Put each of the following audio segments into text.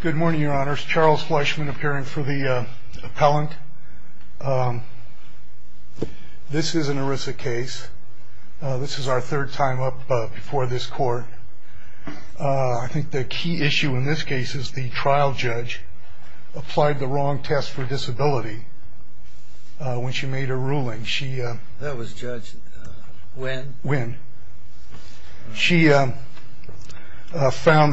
Good morning, your honors. Charles Fleischman appearing for the appellant. This is an ERISA case. This is our third time up before this court. I think the key issue in this case is the trial judge applied the wrong test for disability when she made her ruling. That was Judge Nguyen. She found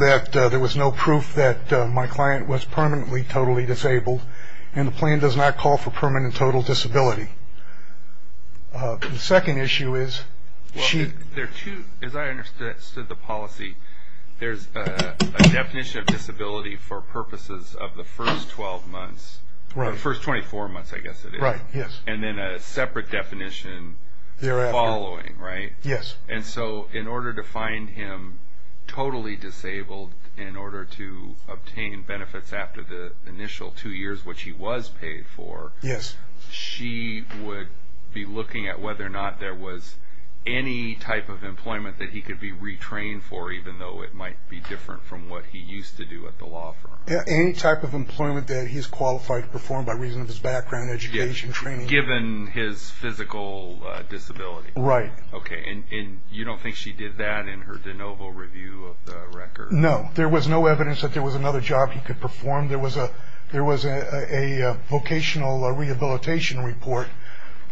that there was no proof that my client was permanently totally disabled and the plan does not call for permanent total disability. The second issue is... As I understood the policy, there is a definition of disability for purposes of the first 24 months and then a separate definition the following. Yes. In order to find him totally disabled, in order to obtain benefits after the initial two years which he was paid for, she would be looking at whether or not there was any type of employment that he could be retrained for even though it might be different from what he used to do at the law firm. Any type of employment that he is qualified to perform by reason of his background, education, training. Given his physical disability. Right. Okay, and you don't think she did that in her de novo review of the record? No. There was no evidence that there was another job he could perform. There was a vocational rehabilitation report,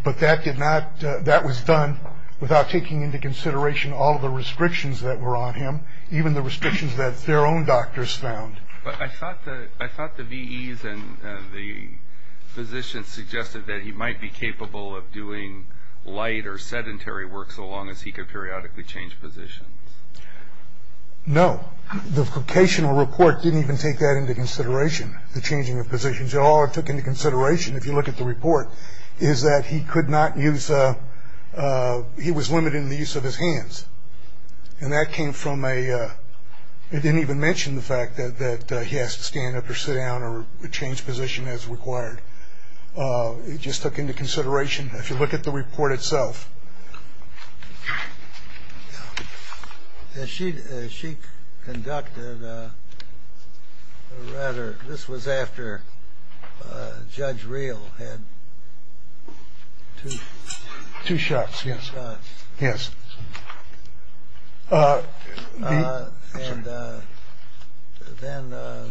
but that was done without taking into consideration all of the restrictions that were on him, even the restrictions that their own doctors found. But I thought the VEs and the physicians suggested that he might be capable of doing light or sedentary work so long as he could periodically change positions. No. The vocational report didn't even take that into consideration, the changing of positions. It all took into consideration, if you look at the report, is that he could not use. He was limited in the use of his hands. And that came from a. It didn't even mention the fact that he has to stand up or sit down or change position as required. It just took into consideration. If you look at the report itself. She. She conducted rather. This was after Judge Real had two shots. Yes. Yes. And then.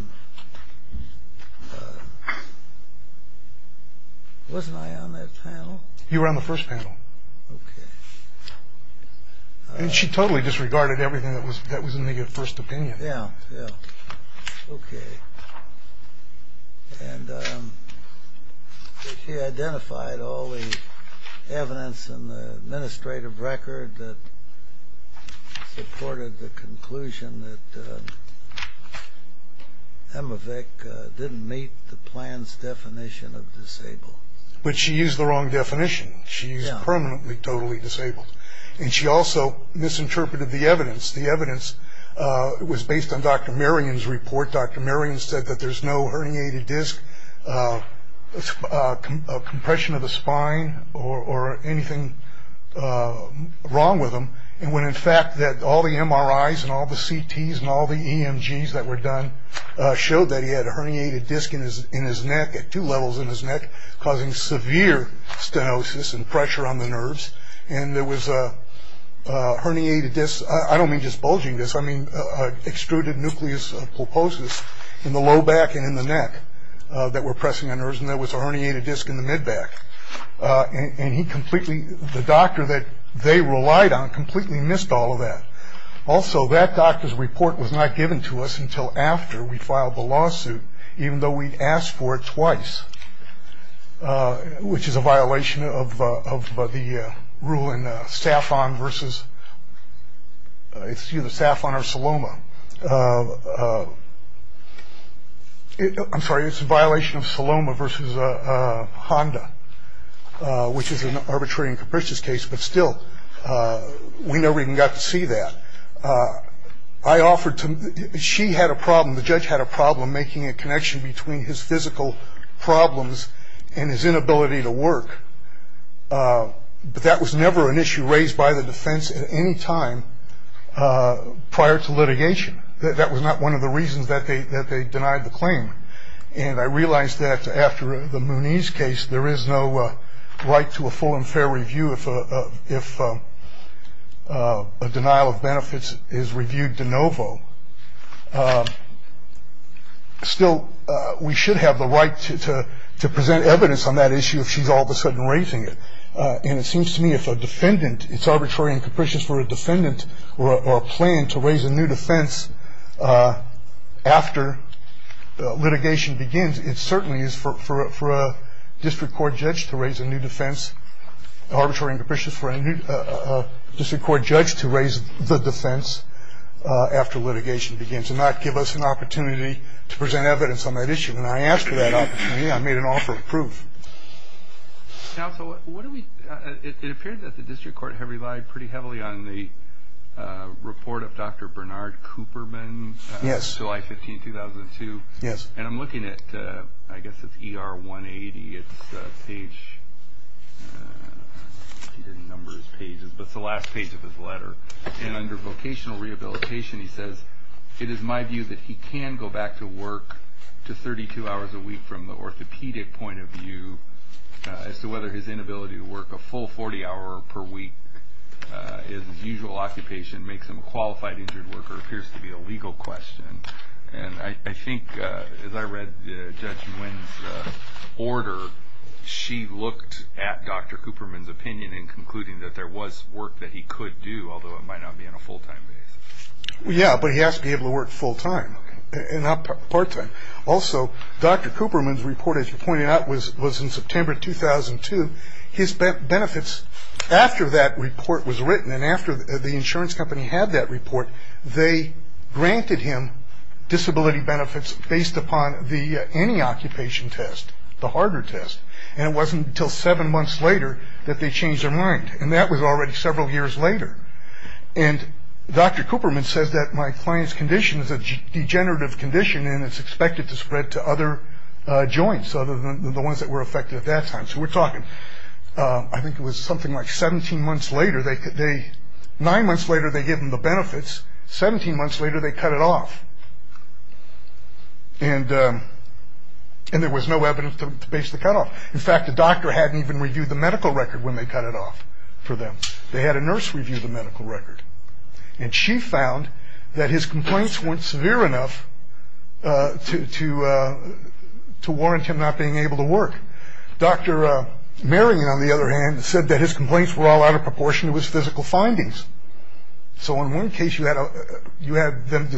Wasn't I on that panel? You were on the first panel. OK. And she totally disregarded everything that was that was in the first opinion. Yeah. OK. And she identified all the evidence in the administrative record that supported the conclusion that. I'm a Vic didn't meet the plan's definition of disabled, but she used the wrong definition. She's permanently, totally disabled. And she also misinterpreted the evidence. The evidence was based on Dr. Marion's report. Dr. Marion said that there's no herniated disc compression of the spine or anything wrong with him. And when, in fact, that all the MRIs and all the CTs and all the EMGs that were done showed that he had a herniated disc in his in his neck at two levels in his neck, causing severe stenosis and pressure on the nerves. And there was a herniated disc. I don't mean just bulging this. I mean, extruded nucleus pulposus in the low back and in the neck that were pressing on nerves. And there was a herniated disc in the mid back. And he completely the doctor that they relied on completely missed all of that. Also, that doctor's report was not given to us until after we filed the lawsuit, even though we asked for it twice, which is a violation of the rule in Staffon versus it's either Staffon or Saloma. I'm sorry. It's a violation of Saloma versus Honda, which is an arbitrary and capricious case. But still, we never even got to see that. I offered to she had a problem. The judge had a problem making a connection between his physical problems and his inability to work. But that was never an issue raised by the defense at any time prior to litigation. That was not one of the reasons that they that they denied the claim. And I realized that after the Mooney's case, there is no right to a full and fair review. If a denial of benefits is reviewed de novo. Still, we should have the right to present evidence on that issue if she's all of a sudden raising it. And it seems to me if a defendant it's arbitrary and capricious for a defendant or a plan to raise a new defense. After litigation begins, it certainly is for a district court judge to raise a new defense. Arbitrary and capricious for a new district court judge to raise the defense after litigation begins and not give us an opportunity to present evidence on that issue. And I asked for that opportunity. I made an offer of proof. Now, so what do we it appeared that the district court have relied pretty heavily on the report of Dr. Bernard Cooperman. Yes. July 15, 2002. Yes. And I'm looking at I guess it's E.R. 180. It's a page numbers pages. But the last page of his letter and under vocational rehabilitation, he says, it is my view that he can go back to work to 32 hours a week. From the orthopedic point of view as to whether his inability to work a full 40 hour per week is usual occupation makes him a qualified injured worker appears to be a legal question. And I think as I read Judge Wynn's order, she looked at Dr. Cooperman's opinion in concluding that there was work that he could do, although it might not be in a full time. Yeah, but he has to be able to work full time and not part time. Also, Dr. Cooperman's report, as you pointed out, was was in September 2002. His benefits after that report was written and after the insurance company had that report, they granted him disability benefits based upon the any occupation test, the harder test. And it wasn't until seven months later that they changed their mind. And that was already several years later. And Dr. Cooperman says that my client's condition is a degenerative condition and it's expected to spread to other joints other than the ones that were affected at that time. So we're talking. I think it was something like 17 months later. They could be nine months later. They give them the benefits. 17 months later, they cut it off. And and there was no evidence to base the cutoff. In fact, the doctor hadn't even reviewed the medical record when they cut it off for them. They had a nurse review the medical record. And she found that his complaints weren't severe enough to to to warrant him not being able to work. Dr. Marion, on the other hand, said that his complaints were all out of proportion to his physical findings. So in one case, you had you had them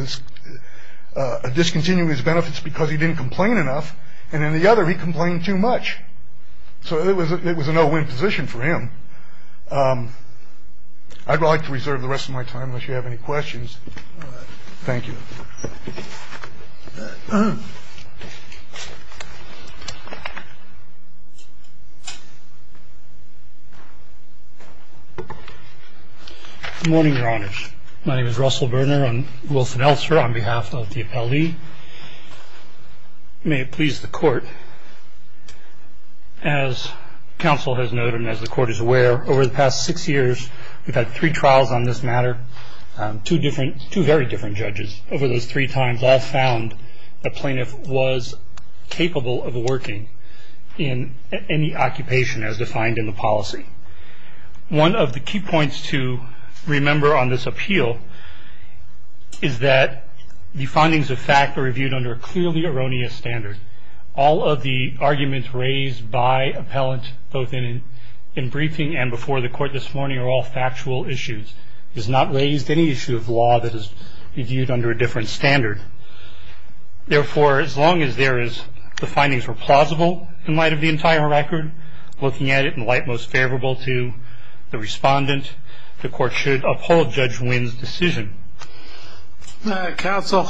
discontinue his benefits because he didn't complain enough. And in the other, he complained too much. So it was it was a no win position for him. I'd like to reserve the rest of my time unless you have any questions. Thank you. Good morning, Your Honor. My name is Russell Burner and Wilson Elser on behalf of the L.A. May it please the court. As counsel has noted, as the court is aware, over the past six years, we've had three trials on this matter. Two different two very different judges over those three times all found the plaintiff was capable of working in any occupation as defined in the policy. One of the key points to remember on this appeal is that the findings of fact are reviewed under a clearly erroneous standard. All of the arguments raised by appellant both in in briefing and before the court this morning are all factual issues. It is not raised any issue of law that is viewed under a different standard. Therefore, as long as there is the findings were plausible in light of the entire record, looking at it in light most favorable to the respondent, the court should uphold Judge Wynn's decision. Counsel,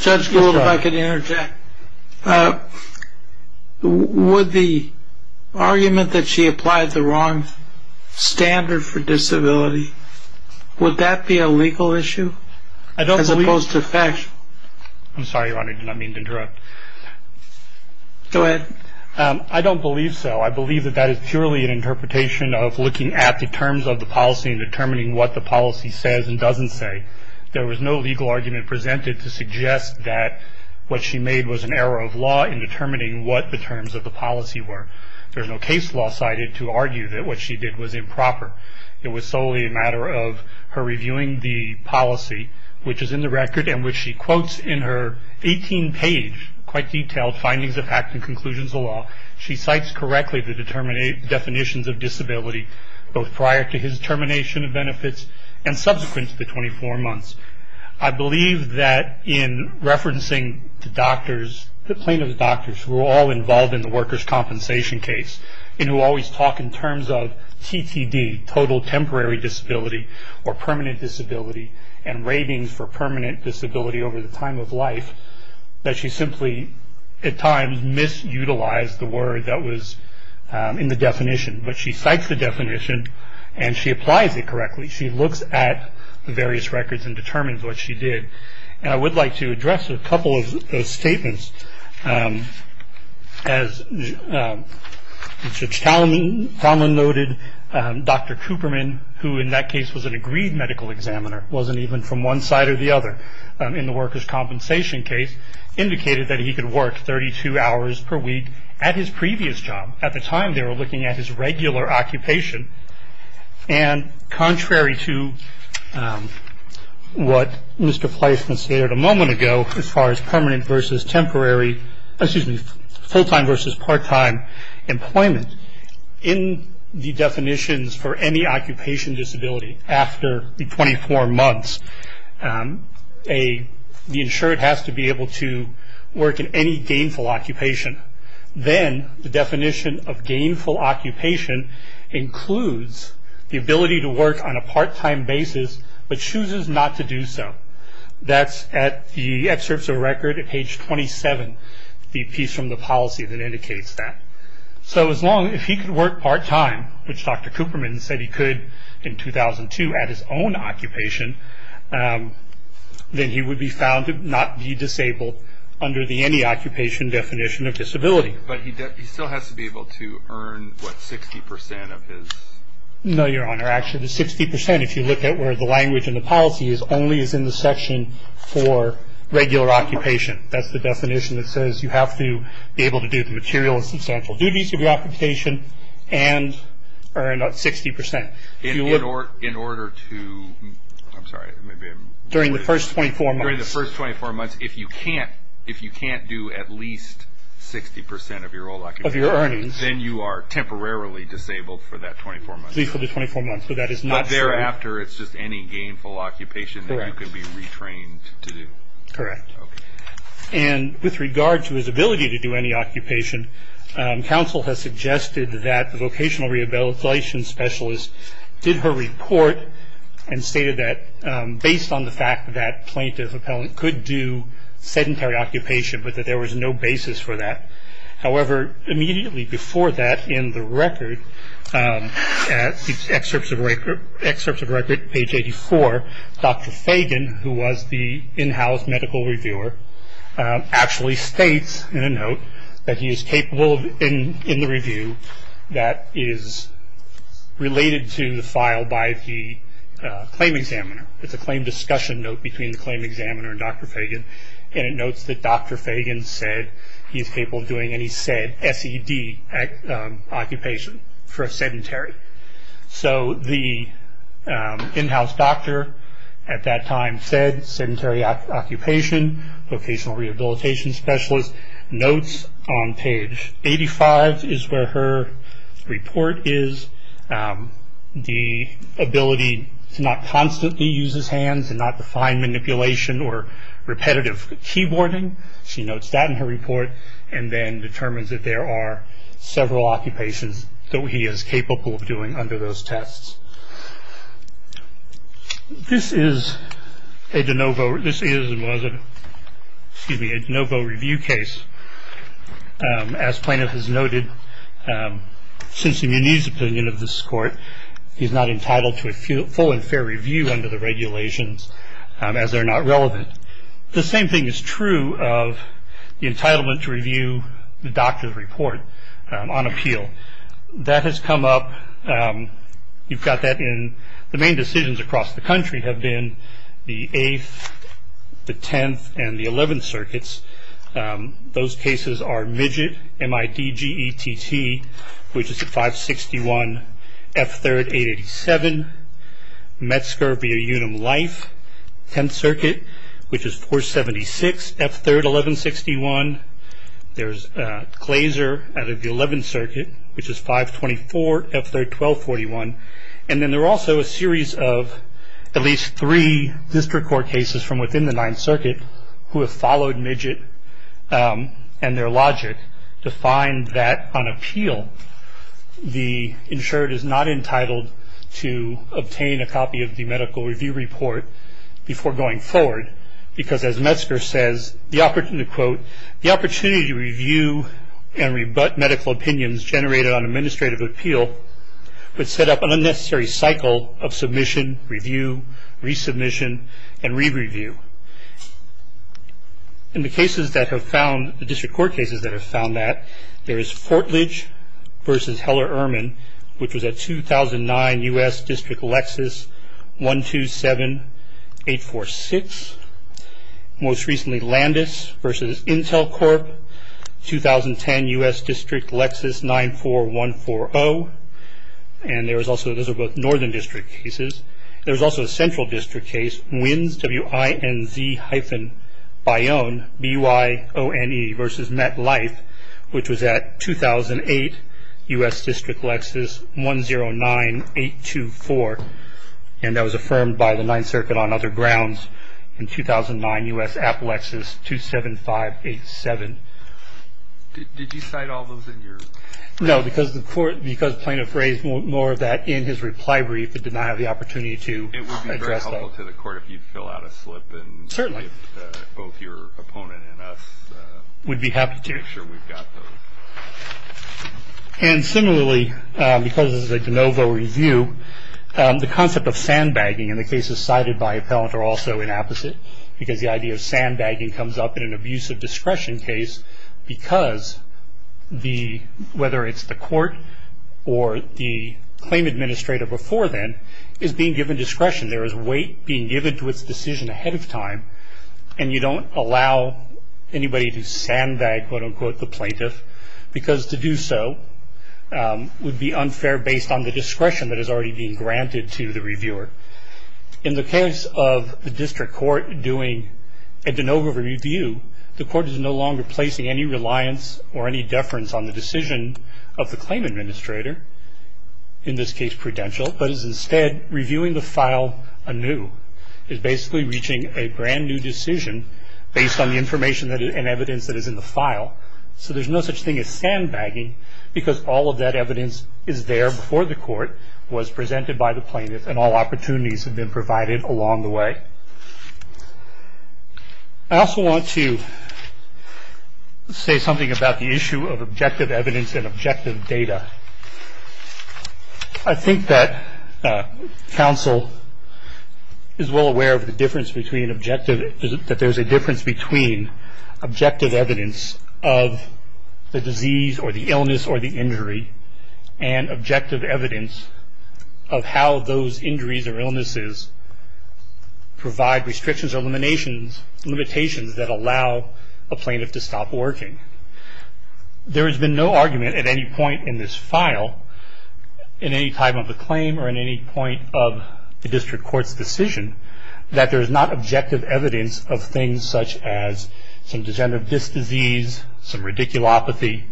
Judge Gould, if I could interject. Would the argument that she applied the wrong standard for disability, would that be a legal issue as opposed to factual? I'm sorry, Your Honor. I did not mean to interrupt. Go ahead. I don't believe so. I believe that that is purely an interpretation of looking at the terms of the policy and determining what the policy says and doesn't say. There was no legal argument presented to suggest that what she made was an error of law in determining what the terms of the policy were. There's no case law cited to argue that what she did was improper. It was solely a matter of her reviewing the policy, which is in the record, and which she quotes in her 18-page quite detailed findings of fact and conclusions of law. She cites correctly the definitions of disability, both prior to his termination of benefits and subsequent to the 24 months. I believe that in referencing the doctors, the plaintiff's doctors who were all involved in the workers' compensation case and who always talk in terms of TTD, total temporary disability, or permanent disability, and ratings for permanent disability over the time of life, that she simply at times misutilized the word that was in the definition. But she cites the definition, and she applies it correctly. She looks at the various records and determines what she did. And I would like to address a couple of those statements. As Judge Talman noted, Dr. Cooperman, who in that case was an agreed medical examiner, wasn't even from one side or the other in the workers' compensation case, indicated that he could work 32 hours per week at his previous job. At the time, they were looking at his regular occupation. And contrary to what Mr. Placement stated a moment ago as far as permanent versus temporary, excuse me, full-time versus part-time employment, in the definitions for any occupation disability after the 24 months, the insured has to be able to work in any gainful occupation. Then the definition of gainful occupation includes the ability to work on a part-time basis but chooses not to do so. That's at the excerpts of record at page 27, the piece from the policy that indicates that. So as long as he could work part-time, which Dr. Cooperman said he could in 2002 at his own occupation, then he would be found to not be disabled under the any occupation definition of disability. But he still has to be able to earn, what, 60% of his? No, Your Honor. Actually, the 60%, if you look at where the language in the policy is, only is in the section for regular occupation. That's the definition that says you have to be able to do the material and substantial duties of your occupation and earn 60%. In order to, I'm sorry, maybe I'm. During the first 24 months. During the first 24 months, if you can't do at least 60% of your old occupation. Of your earnings. Then you are temporarily disabled for that 24 months. Disabled for 24 months, but that is not. But thereafter, it's just any gainful occupation that you can be retrained to do. Correct. Okay. And with regard to his ability to do any occupation, counsel has suggested that the vocational rehabilitation specialist did her report and stated that based on the fact that plaintiff appellant could do sedentary occupation, but that there was no basis for that. However, immediately before that in the record, the excerpts of record page 84, Dr. Fagan, who was the in-house medical reviewer, actually states in a note that he is capable in the review that is related to the file by the claim examiner. It's a claim discussion note between the claim examiner and Dr. Fagan, and it notes that Dr. Fagan said he is capable of doing any said SED occupation for a sedentary. So the in-house doctor at that time said sedentary occupation, vocational rehabilitation specialist. Notes on page 85 is where her report is. The ability to not constantly use his hands and not define manipulation or repetitive keyboarding, she notes that in her report and then determines that there are several occupations that he is capable of doing under those tests. This is a de novo review case. As plaintiff has noted, since the Muniz opinion of this court, he's not entitled to a full and fair review under the regulations as they're not relevant. The same thing is true of the entitlement to review the doctor's report on appeal. That has come up. You've got that in the main decisions across the country have been the 8th, the 10th, and the 11th circuits. Those cases are Midgett, M-I-D-G-E-T-T, which is 561 F3rd 887, Metzger via Unum Life, 10th circuit, which is 476 F3rd 1161. There's Glazer out of the 11th circuit, which is 524 F3rd 1241. And then there are also a series of at least three district court cases from within the 9th circuit who have followed Midgett and their logic to find that on appeal, the insured is not entitled to obtain a copy of the medical review report before going forward, because as Metzger says, the opportunity to quote, the opportunity to review and rebut medical opinions generated on administrative appeal would set up an unnecessary cycle of submission, review, resubmission, and re-review. In the cases that have found, the district court cases that have found that, there is Fortledge versus Heller-Urman, which was at 2009 U.S. District Lexus 127846. Most recently Landis versus Intel Corp, 2010 U.S. District Lexus 94140. And there is also, those are both northern district cases. There's also a central district case, Wins, W-I-N-Z hyphen Bione, B-U-I-O-N-E versus Met Life, which was at 2008 U.S. District Lexus 109824, and that was affirmed by the 9th circuit on other grounds. In 2009 U.S. Appalachus 27587. Did you cite all those in your? No, because the court, because plaintiff raised more of that in his reply brief, but did not have the opportunity to address that. It would be very helpful to the court if you'd fill out a slip. Certainly. And if both your opponent and us. Would be happy to. Make sure we've got those. And similarly, because this is a de novo review, the concept of sandbagging in the cases cited by appellant are also inapposite, because the idea of sandbagging comes up in an abuse of discretion case, because whether it's the court or the claim administrator before then is being given discretion. There is weight being given to its decision ahead of time, and you don't allow anybody to sandbag, quote unquote, the plaintiff, because to do so would be unfair based on the discretion that is already being granted to the reviewer. In the case of the district court doing a de novo review, the court is no longer placing any reliance or any deference on the decision of the claim administrator, in this case prudential, but is instead reviewing the file anew. It's basically reaching a brand new decision based on the information and evidence that is in the file. So there's no such thing as sandbagging, because all of that evidence is there before the court was presented by the plaintiff, and all opportunities have been provided along the way. I also want to say something about the issue of objective evidence and objective data. I think that counsel is well aware of the difference between objective that there's a difference between objective evidence of the disease or the illness or the injury and objective evidence of how those injuries or illnesses provide restrictions or limitations that allow a plaintiff to stop working. There has been no argument at any point in this file, in any type of a claim or in any point of the district court's decision, that there is not objective evidence of things such as some degenerative disc disease, some radiculopathy,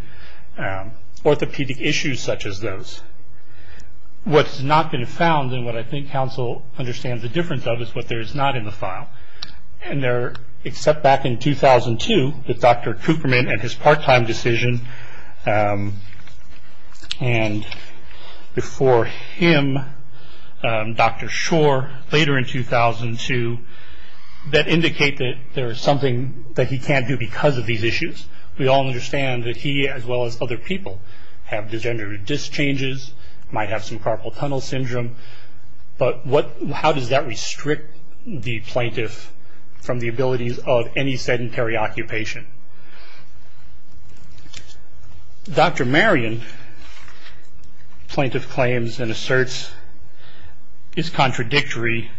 orthopedic issues such as those. What's not been found and what I think counsel understands the difference of is what there is not in the file. And there, except back in 2002, with Dr. Cooperman and his part-time decision, and before him, Dr. Shore, later in 2002, that indicate that there is something that he can't do because of these issues. We all understand that he, as well as other people, have degenerative disc changes, might have some carpal tunnel syndrome, but how does that restrict the plaintiff from the abilities of any sedentary occupation? Dr. Marion, plaintiff claims and asserts, is contradictory,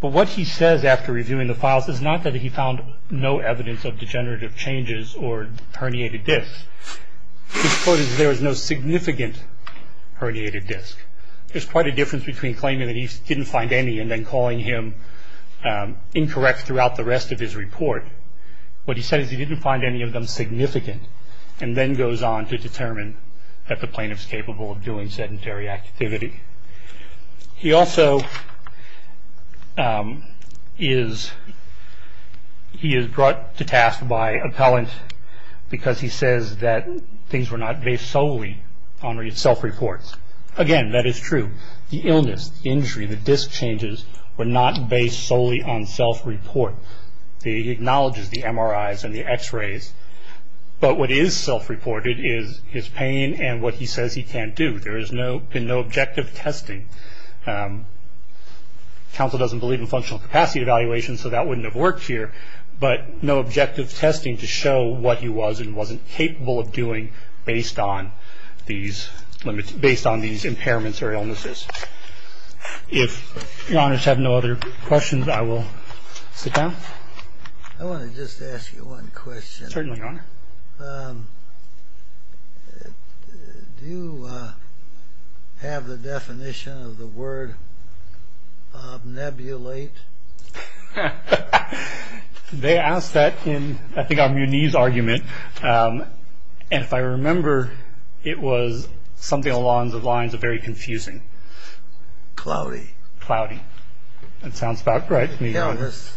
but what he says after reviewing the files is not that he found no evidence of degenerative changes or herniated discs. His quote is, there is no significant herniated disc. There's quite a difference between claiming that he didn't find any and then calling him incorrect throughout the rest of his report. What he said is he didn't find any of them significant and then goes on to determine that the plaintiff's capable of doing sedentary activity. He also is, he is brought to task by appellant because he says that things were not based solely on self-reports. Again, that is true. The illness, the injury, the disc changes were not based solely on self-report. He acknowledges the MRIs and the x-rays, but what is self-reported is his pain and what he says he can't do. There has been no objective testing. Counsel doesn't believe in functional capacity evaluation, so that wouldn't have worked here, but no objective testing to show what he was and wasn't capable of doing based on these impairments or illnesses. If Your Honors have no other questions, I will sit down. I want to just ask you one question. Certainly, Your Honor. Do you have the definition of the word obnebulate? They asked that in, I think, our Muniz argument, and if I remember, it was something along the lines of very confusing. Cloudy. Cloudy. That sounds about right to me, Your Honors.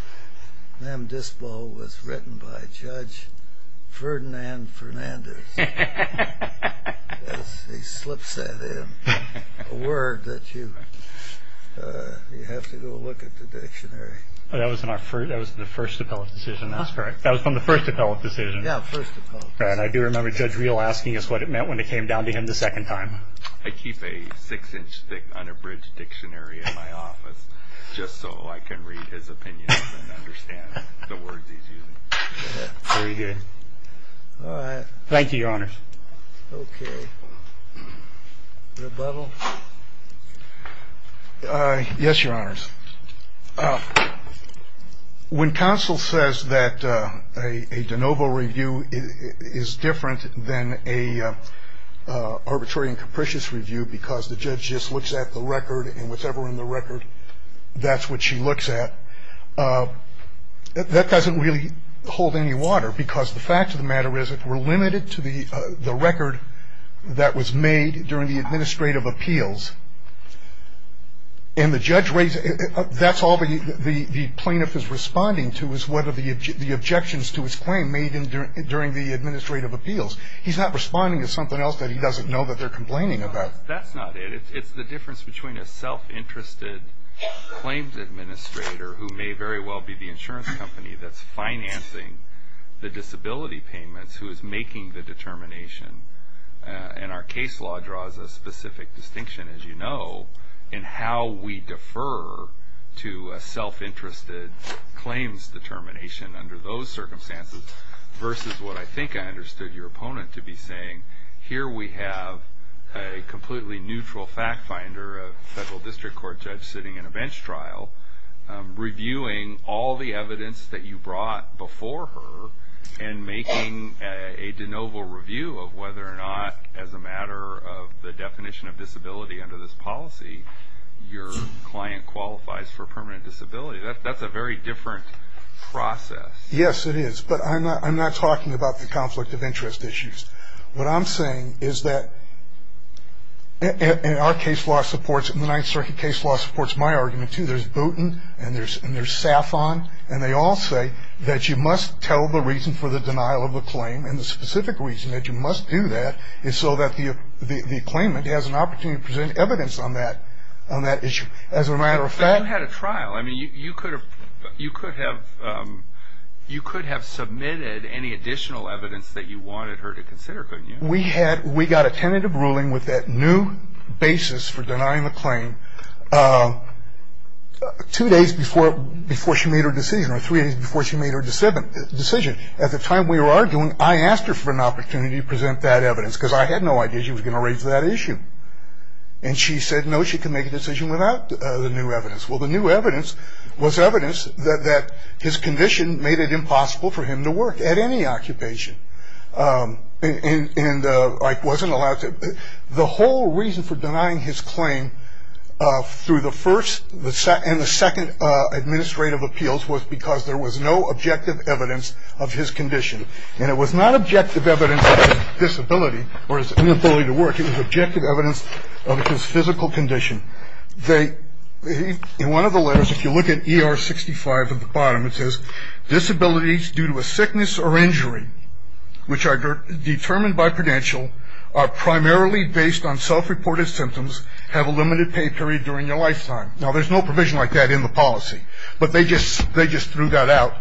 M. Dispo was written by Judge Ferdinand Fernandez. He slips that in. A word that you have to go look at the dictionary. That was in the first appellate decision. That's correct. That was from the first appellate decision. Yeah, first appellate decision. I do remember Judge Real asking us what it meant when it came down to him the second time. I keep a six-inch-thick unabridged dictionary in my office just so I can read his opinions and understand the words he's using. Very good. Thank you, Your Honors. Okay. Rebuttal? Yes, Your Honors. When counsel says that a de novo review is different than an arbitrary and capricious review because the judge just looks at the record and whatever's in the record, that's what she looks at, that doesn't really hold any water because the fact of the matter is we're limited to the record that was made during the administrative appeals. And the judge raised it. That's all the plaintiff is responding to is whether the objections to his claim made during the administrative appeals. He's not responding to something else that he doesn't know that they're complaining about. That's not it. It's the difference between a self-interested claims administrator who may very well be the insurance company that's financing the disability payments who is making the determination, and our case law draws a specific distinction, as you know, in how we defer to a self-interested claims determination under those circumstances versus what I think I understood your opponent to be saying. Here we have a completely neutral fact finder, a federal district court judge sitting in a bench trial, reviewing all the evidence that you brought before her and making a de novo review of whether or not, as a matter of the definition of disability under this policy, your client qualifies for permanent disability. That's a very different process. Yes, it is, but I'm not talking about the conflict of interest issues. What I'm saying is that, and our case law supports, and the Ninth Circuit case law supports my argument, too. There's Booten, and there's Saffon, and they all say that you must tell the reason for the denial of a claim, and the specific reason that you must do that is so that the claimant has an opportunity to present evidence on that issue. As a matter of fact- You had a trial. I mean, you could have submitted any additional evidence that you wanted her to consider, couldn't you? We got a tentative ruling with that new basis for denying the claim two days before she made her decision, or three days before she made her decision. At the time we were arguing, I asked her for an opportunity to present that evidence because I had no idea she was going to raise that issue, and she said, no, she can make a decision without the new evidence. Well, the new evidence was evidence that his condition made it impossible for him to work at any occupation, and I wasn't allowed to- The whole reason for denying his claim through the first and the second administrative appeals was because there was no objective evidence of his condition, and it was not objective evidence of his disability or his inability to work. It was objective evidence of his physical condition. In one of the letters, if you look at ER 65 at the bottom, it says, disabilities due to a sickness or injury, which are determined by credential, are primarily based on self-reported symptoms, have a limited pay period during their lifetime. Now, there's no provision like that in the policy, but they just threw that out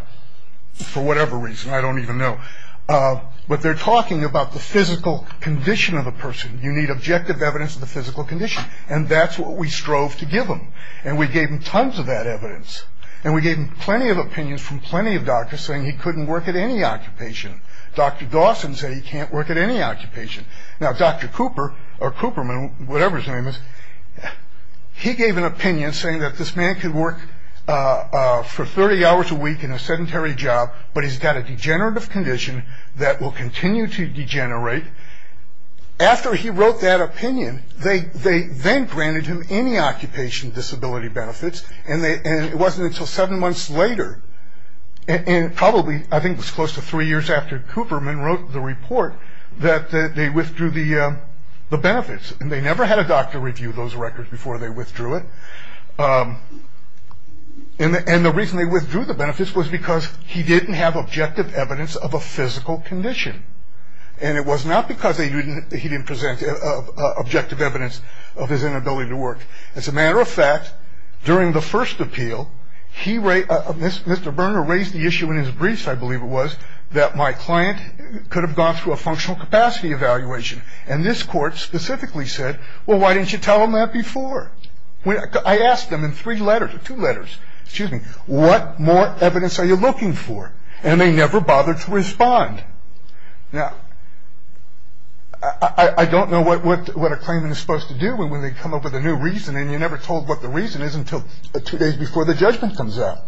for whatever reason. I don't even know. But they're talking about the physical condition of a person. You need objective evidence of the physical condition, and that's what we strove to give him, and we gave him tons of that evidence, and we gave him plenty of opinions from plenty of doctors saying he couldn't work at any occupation. Dr. Dawson said he can't work at any occupation. Now, Dr. Cooper or Cooperman, whatever his name is, he gave an opinion saying that this man could work for 30 hours a week in a sedentary job, but he's got a degenerative condition that will continue to degenerate. After he wrote that opinion, they then granted him any occupation disability benefits, and it wasn't until seven months later, and probably I think it was close to three years after Cooperman wrote the report, that they withdrew the benefits, and they never had a doctor review those records before they withdrew it. And the reason they withdrew the benefits was because he didn't have objective evidence of a physical condition, and it was not because he didn't present objective evidence of his inability to work. As a matter of fact, during the first appeal, Mr. Berner raised the issue in his briefs, I believe it was, that my client could have gone through a functional capacity evaluation, and this court specifically said, well, why didn't you tell him that before? I asked them in three letters, or two letters, excuse me, what more evidence are you looking for, and they never bothered to respond. Now, I don't know what a claimant is supposed to do when they come up with a new reason, and you're never told what the reason is until two days before the judgment comes out.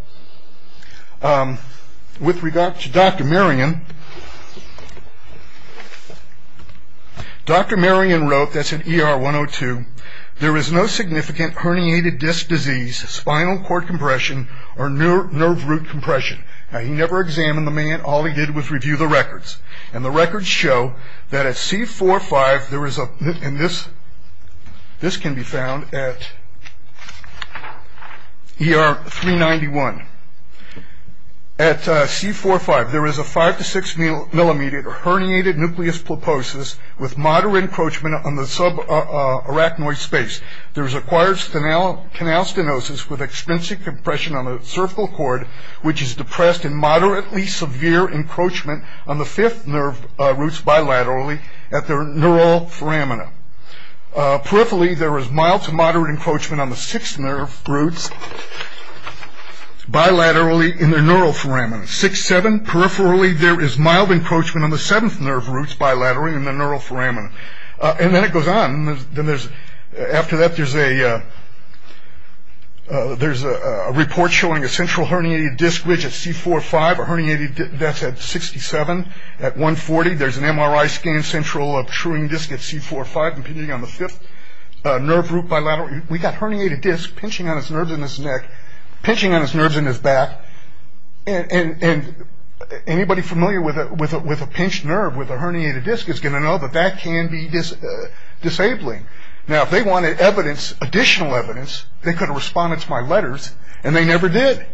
With regard to Dr. Marion, Dr. Marion wrote, that's in ER 102, there is no significant herniated disc disease, spinal cord compression, or nerve root compression. Now, he never examined the man. All he did was review the records, and the records show that at C4-5, there is a, and this can be found at ER 391. At C4-5, there is a five to six millimeter herniated nucleus pulposus with moderate encroachment on the subarachnoid space. There is acquired canal stenosis with extensive compression on the cervical cord, which is depressed in moderately severe encroachment on the fifth nerve roots bilaterally at the neural foramina. Peripherally, there is mild to moderate encroachment on the sixth nerve roots bilaterally in the neural foramina. Six, seven, peripherally, there is mild encroachment on the seventh nerve roots bilaterally in the neural foramina. And then it goes on. Then there's, after that, there's a report showing a central herniated disc ridge at C4-5, a herniated disc that's at 67. At 140, there's an MRI scan central truing disc at C4-5, impeding on the fifth nerve root bilaterally. We got herniated disc pinching on his nerves in his neck, pinching on his nerves in his back, and anybody familiar with a pinched nerve with a herniated disc is going to know that that can be disabling. Now, if they wanted evidence, additional evidence, they could have responded to my letters, and they never did.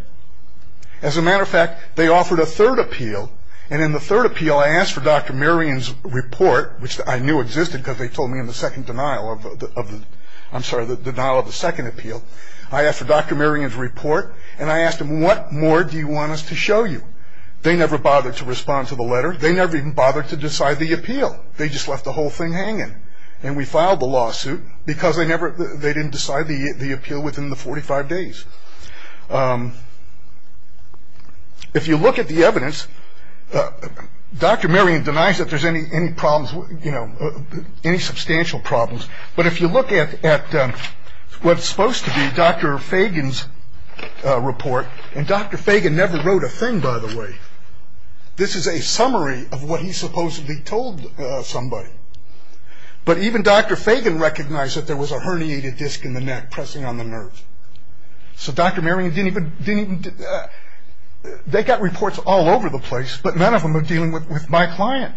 As a matter of fact, they offered a third appeal, and in the third appeal I asked for Dr. Merian's report, which I knew existed because they told me in the second denial of the, I'm sorry, the denial of the second appeal. I asked for Dr. Merian's report, and I asked him, what more do you want us to show you? They never bothered to respond to the letter. They never even bothered to decide the appeal. They just left the whole thing hanging. And we filed the lawsuit because they never, they didn't decide the appeal within the 45 days. If you look at the evidence, Dr. Merian denies that there's any problems, you know, any substantial problems. But if you look at what's supposed to be Dr. Fagan's report, and Dr. Fagan never wrote a thing, by the way. This is a summary of what he supposedly told somebody. But even Dr. Fagan recognized that there was a herniated disc in the neck pressing on the nerve. So Dr. Merian didn't even, they got reports all over the place, but none of them were dealing with my client.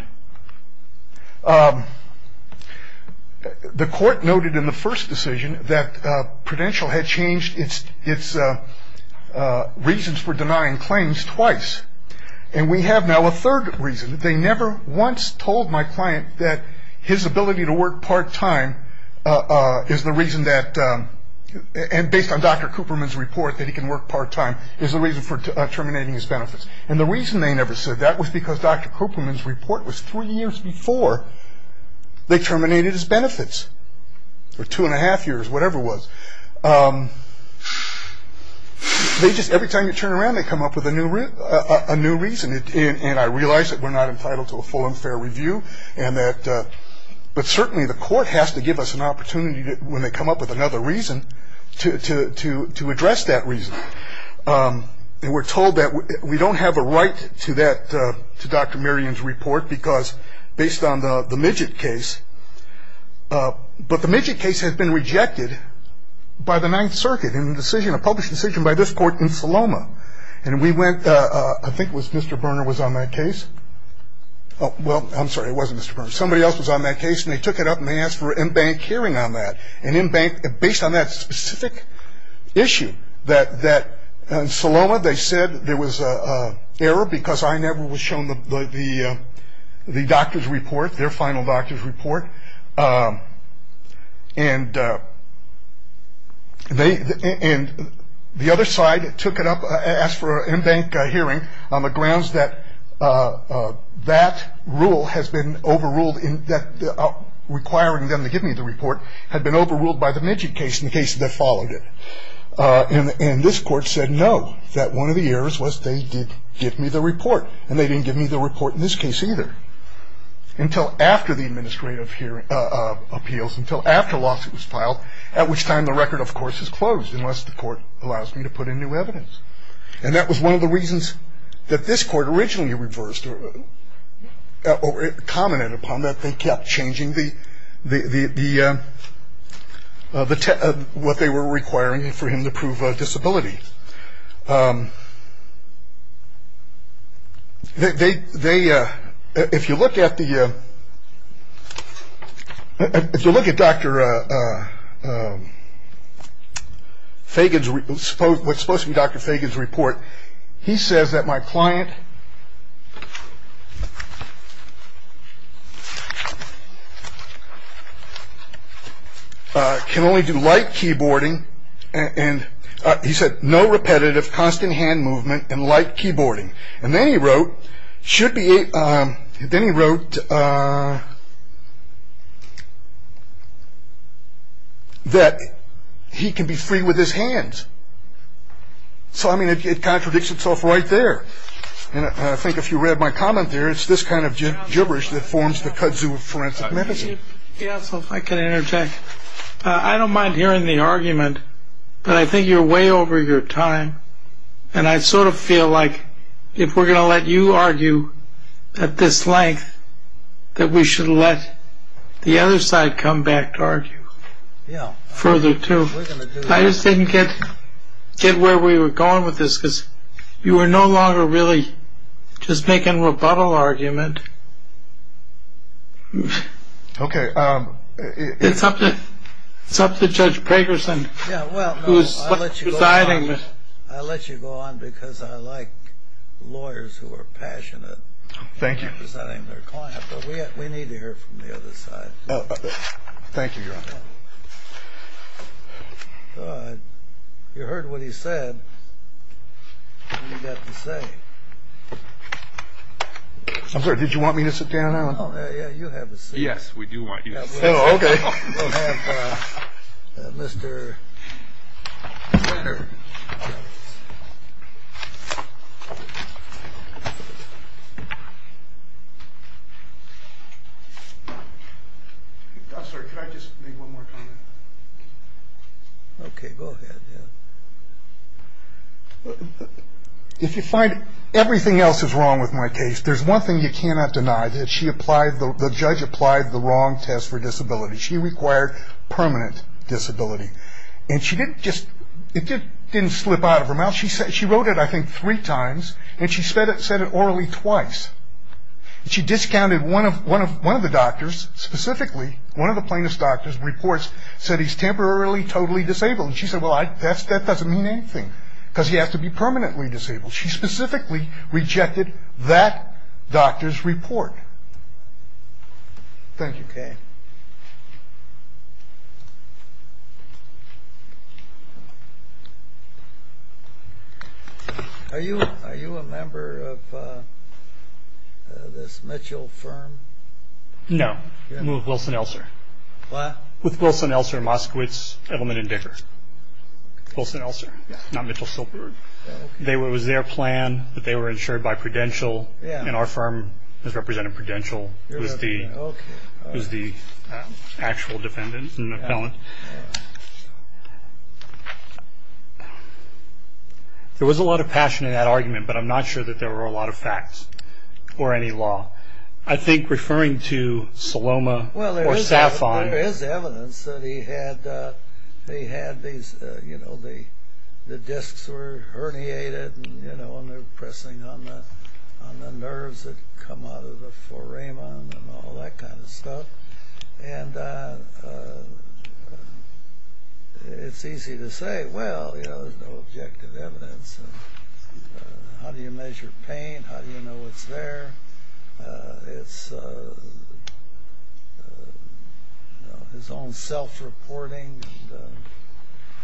The court noted in the first decision that Prudential had changed its reasons for denying claims twice. And we have now a third reason. They never once told my client that his ability to work part-time is the reason that, and based on Dr. Cooperman's report that he can work part-time, is the reason for terminating his benefits. And the reason they never said that was because Dr. Cooperman's report was three years before they terminated his benefits, or two and a half years, whatever it was. They just, every time you turn around, they come up with a new reason. And I realize that we're not entitled to a full and fair review, and that, but certainly the court has to give us an opportunity when they come up with another reason to address that reason. And we're told that we don't have a right to that, to Dr. Merian's report, because based on the Midget case, but the Midget case has been rejected by the Ninth Circuit in a decision, a published decision by this court in Saloma. And we went, I think it was Mr. Berner was on that case. Well, I'm sorry, it wasn't Mr. Berner. Somebody else was on that case, and they took it up, and they asked for an in-bank hearing on that. And in-bank, based on that specific issue, that in Saloma they said there was an error because I never was shown the doctor's report, their final doctor's report. And the other side took it up and asked for an in-bank hearing on the grounds that that rule has been overruled, and that requiring them to give me the report had been overruled by the Midget case and the case that followed it. And this court said no, that one of the errors was they did give me the report, and they didn't give me the report in this case either until after the administrative appeals, until after a lawsuit was filed, at which time the record, of course, is closed, unless the court allows me to put in new evidence. And that was one of the reasons that this court originally reversed or commented upon, that they kept changing what they were requiring for him to prove disability. They, if you look at the, if you look at Dr. Fagan's, what's supposed to be Dr. Fagan's report, he says that my client can only do light keyboarding, and he said no repetitive constant hand movement and light keyboarding. And then he wrote, should be, then he wrote that he can be free with his hands. So, I mean, it contradicts itself right there. And I think if you read my comment there, it's this kind of gibberish that forms the kudzu of forensic medicine. I can interject. I don't mind hearing the argument, but I think you're way over your time, and I sort of feel like if we're going to let you argue at this length, that we should let the other side come back to argue further, too. I just didn't get where we were going with this, because you were no longer really just making a rebuttal argument. Okay. It's up to Judge Pregerson, who's presiding. I'll let you go on, because I like lawyers who are passionate in presiding their client. But we need to hear from the other side. Thank you, Your Honor. You heard what he said. What do you got to say? I'm sorry, did you want me to sit down now? Yeah, you have a seat. Yes, we do want you to sit. Oh, okay. We'll have Mr. Brenner. I'm sorry, can I just make one more comment? Okay, go ahead. If you find everything else is wrong with my case, there's one thing you cannot deny, that the judge applied the wrong test for disability. She required permanent disability. And it didn't slip out of her mouth. She wrote it, I think, three times, and she said it orally twice. She discounted one of the doctors, specifically one of the plaintiff's doctors' reports, said he's temporarily totally disabled. And she said, well, that doesn't mean anything, because he has to be permanently disabled. She specifically rejected that doctor's report. Thank you. Okay. Are you a member of this Mitchell firm? No. I'm with Wilson-Elser. With Wilson-Elser, Moskowitz, Edelman, and Dicker. Wilson-Elser, not Mitchell-Silberberg. It was their plan that they were insured by Prudential, and our firm has represented Prudential as the actual defendant and appellant. There was a lot of passion in that argument, but I'm not sure that there were a lot of facts or any law. I think referring to Saloma or Saffon. There is evidence that he had these, you know, the discs were herniated, and they were pressing on the nerves that come out of the foramen and all that kind of stuff. And it's easy to say, well, there's no objective evidence. How do you measure pain? How do you know it's there? It's his own self-reporting.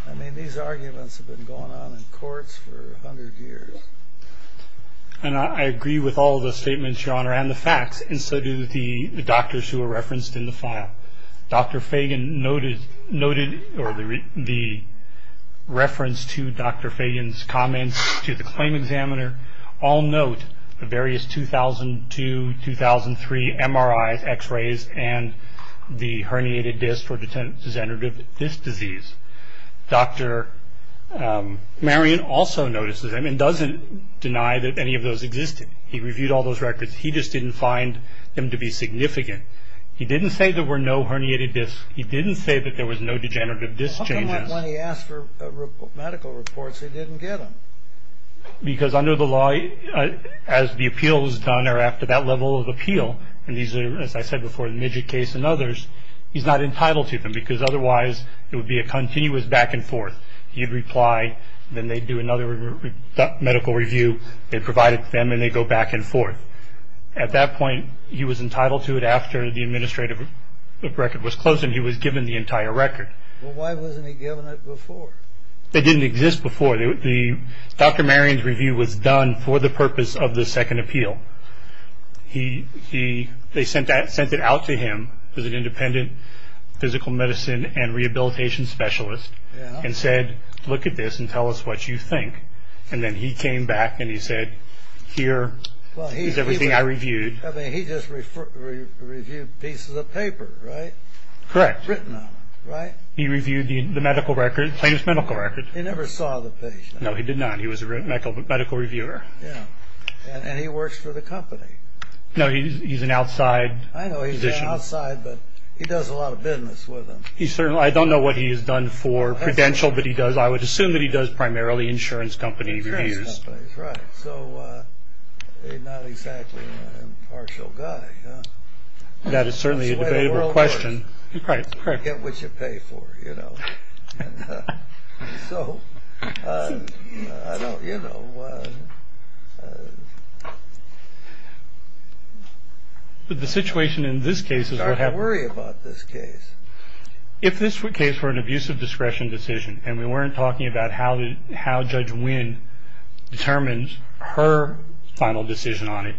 I mean, these arguments have been going on in courts for 100 years. And I agree with all the statements, Your Honor, and the facts, and so do the doctors who were referenced in the file. Dr. Fagan noted the reference to Dr. Fagan's comments to the claim examiner. All note the various 2002, 2003 MRIs, X-rays, and the herniated discs for degenerative disc disease. Dr. Marion also notices them and doesn't deny that any of those existed. He reviewed all those records. He just didn't find them to be significant. He didn't say there were no herniated discs. He didn't say that there was no degenerative disc changes. How come when he asked for medical reports, they didn't get them? Because under the law, as the appeal is done or after that level of appeal, and these are, as I said before, the Midget case and others, he's not entitled to them because otherwise it would be a continuous back and forth. He'd reply, then they'd do another medical review. They'd provide it to them, and they'd go back and forth. At that point, he was entitled to it after the administrative record was closed, and he was given the entire record. Well, why wasn't he given it before? It didn't exist before. Dr. Marion's review was done for the purpose of the second appeal. They sent it out to him as an independent physical medicine and rehabilitation specialist and said, look at this and tell us what you think. And then he came back and he said, here is everything I reviewed. He just reviewed pieces of paper, right? Correct. Written on them, right? He reviewed the medical record, plaintiff's medical record. He never saw the patient. No, he did not. He was a medical reviewer. And he works for the company. No, he's an outside physician. I know he's an outside, but he does a lot of business with them. I don't know what he has done for Prudential, but he does, I would assume that he does primarily insurance company reviews. Insurance companies, right. So he's not exactly an impartial guy. That is certainly a debatable question. Correct, correct. You get what you pay for, you know. So, I don't, you know. But the situation in this case is we're having. You don't have to worry about this case. If this case were an abuse of discretion decision and we weren't talking about how Judge Wynn determines her final decision on it,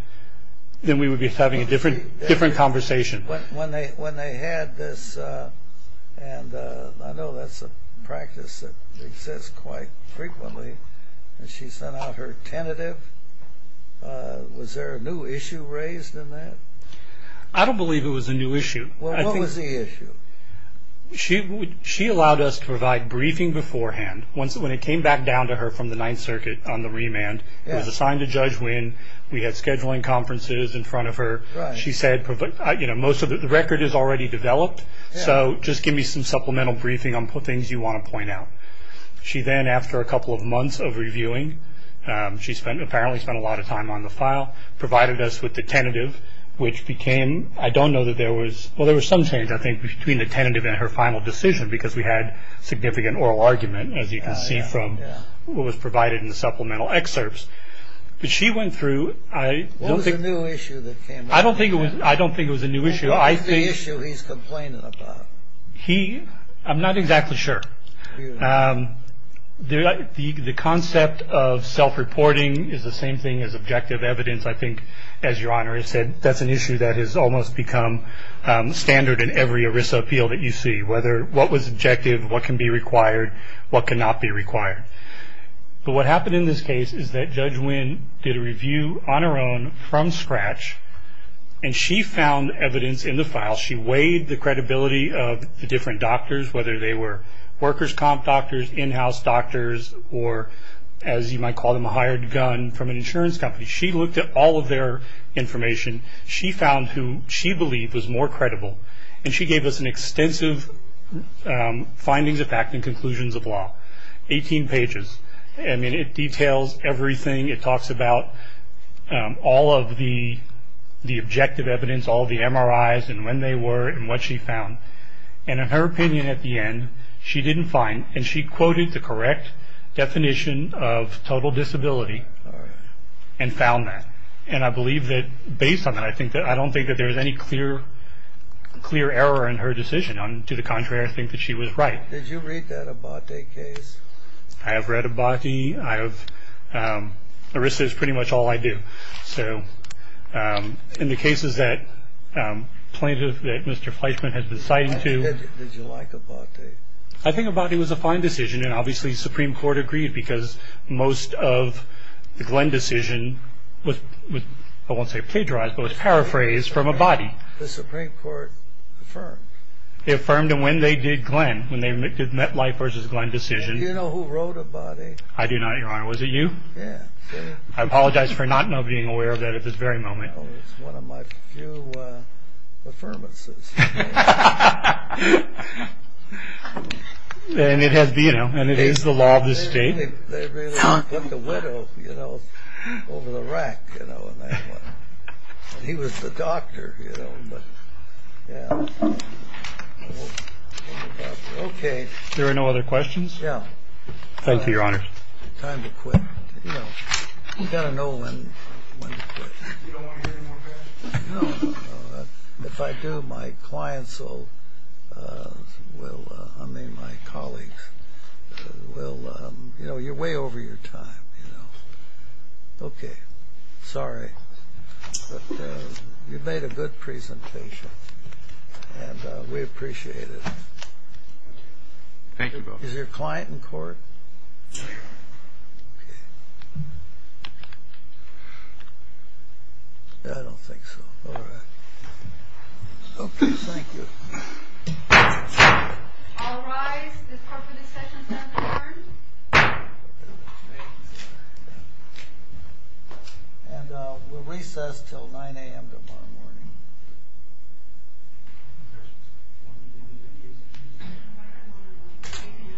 then we would be having a different conversation. When they had this, and I know that's a practice that exists quite frequently, and she sent out her tentative, was there a new issue raised in that? I don't believe it was a new issue. Well, what was the issue? She allowed us to provide briefing beforehand. When it came back down to her from the Ninth Circuit on the remand, it was assigned to Judge Wynn. We had scheduling conferences in front of her. She said, you know, most of the record is already developed, so just give me some supplemental briefing on things you want to point out. She then, after a couple of months of reviewing, she apparently spent a lot of time on the file, provided us with the tentative, which became, I don't know that there was... Well, there was some change, I think, between the tentative and her final decision because we had significant oral argument, as you can see from what was provided in the supplemental excerpts. But she went through... What was the new issue that came up? I don't think it was a new issue. What was the issue he's complaining about? I'm not exactly sure. The concept of self-reporting is the same thing as objective evidence, I think, as Your Honor has said. That's an issue that has almost become standard in every ERISA appeal that you see, whether what was objective, what can be required, what cannot be required. But what happened in this case is that Judge Winn did a review on her own from scratch, and she found evidence in the file. She weighed the credibility of the different doctors, whether they were workers' comp doctors, in-house doctors, or, as you might call them, a hired gun from an insurance company. She looked at all of their information. She found who she believed was more credible, and she gave us extensive findings of fact and conclusions of law. Eighteen pages. I mean, it details everything. It talks about all of the objective evidence, all the MRIs and when they were and what she found. And in her opinion at the end, she didn't find, and she quoted the correct definition of total disability and found that. And I believe that based on that, I don't think that there was any clear error in her decision. To the contrary, I think that she was right. Did you read that Abate case? I have read Abate. Arisa is pretty much all I do. So in the cases that plaintiff, that Mr. Fleischman, has been citing to. Did you like Abate? I think Abate was a fine decision, and obviously Supreme Court agreed, because most of the Glenn decision was, I won't say plagiarized, but was paraphrased from Abate. The Supreme Court affirmed. They affirmed it when they did Glenn, when they met life versus Glenn decision. Do you know who wrote Abate? I do not, Your Honor. Was it you? Yeah. I apologize for not being aware of that at this very moment. It was one of my few affirmances. And it is the law of the state. They really put the widow over the rack in that one. He was the doctor, you know. Okay. There are no other questions? No. Thank you, Your Honor. Time to quit. You know, you got to know when to quit. You don't want to hear any more of that? No. If I do, my clients will, I mean my colleagues, will, you know, you're way over your time. Okay. Sorry. But you made a good presentation, and we appreciate it. Thank you, Your Honor. Is your client in court? Yes. Okay. I don't think so. All right. Okay. Thank you. All rise. And we'll recess until 9 a.m. tomorrow morning. Thank you, Your Honor. Thank you, Your Honor.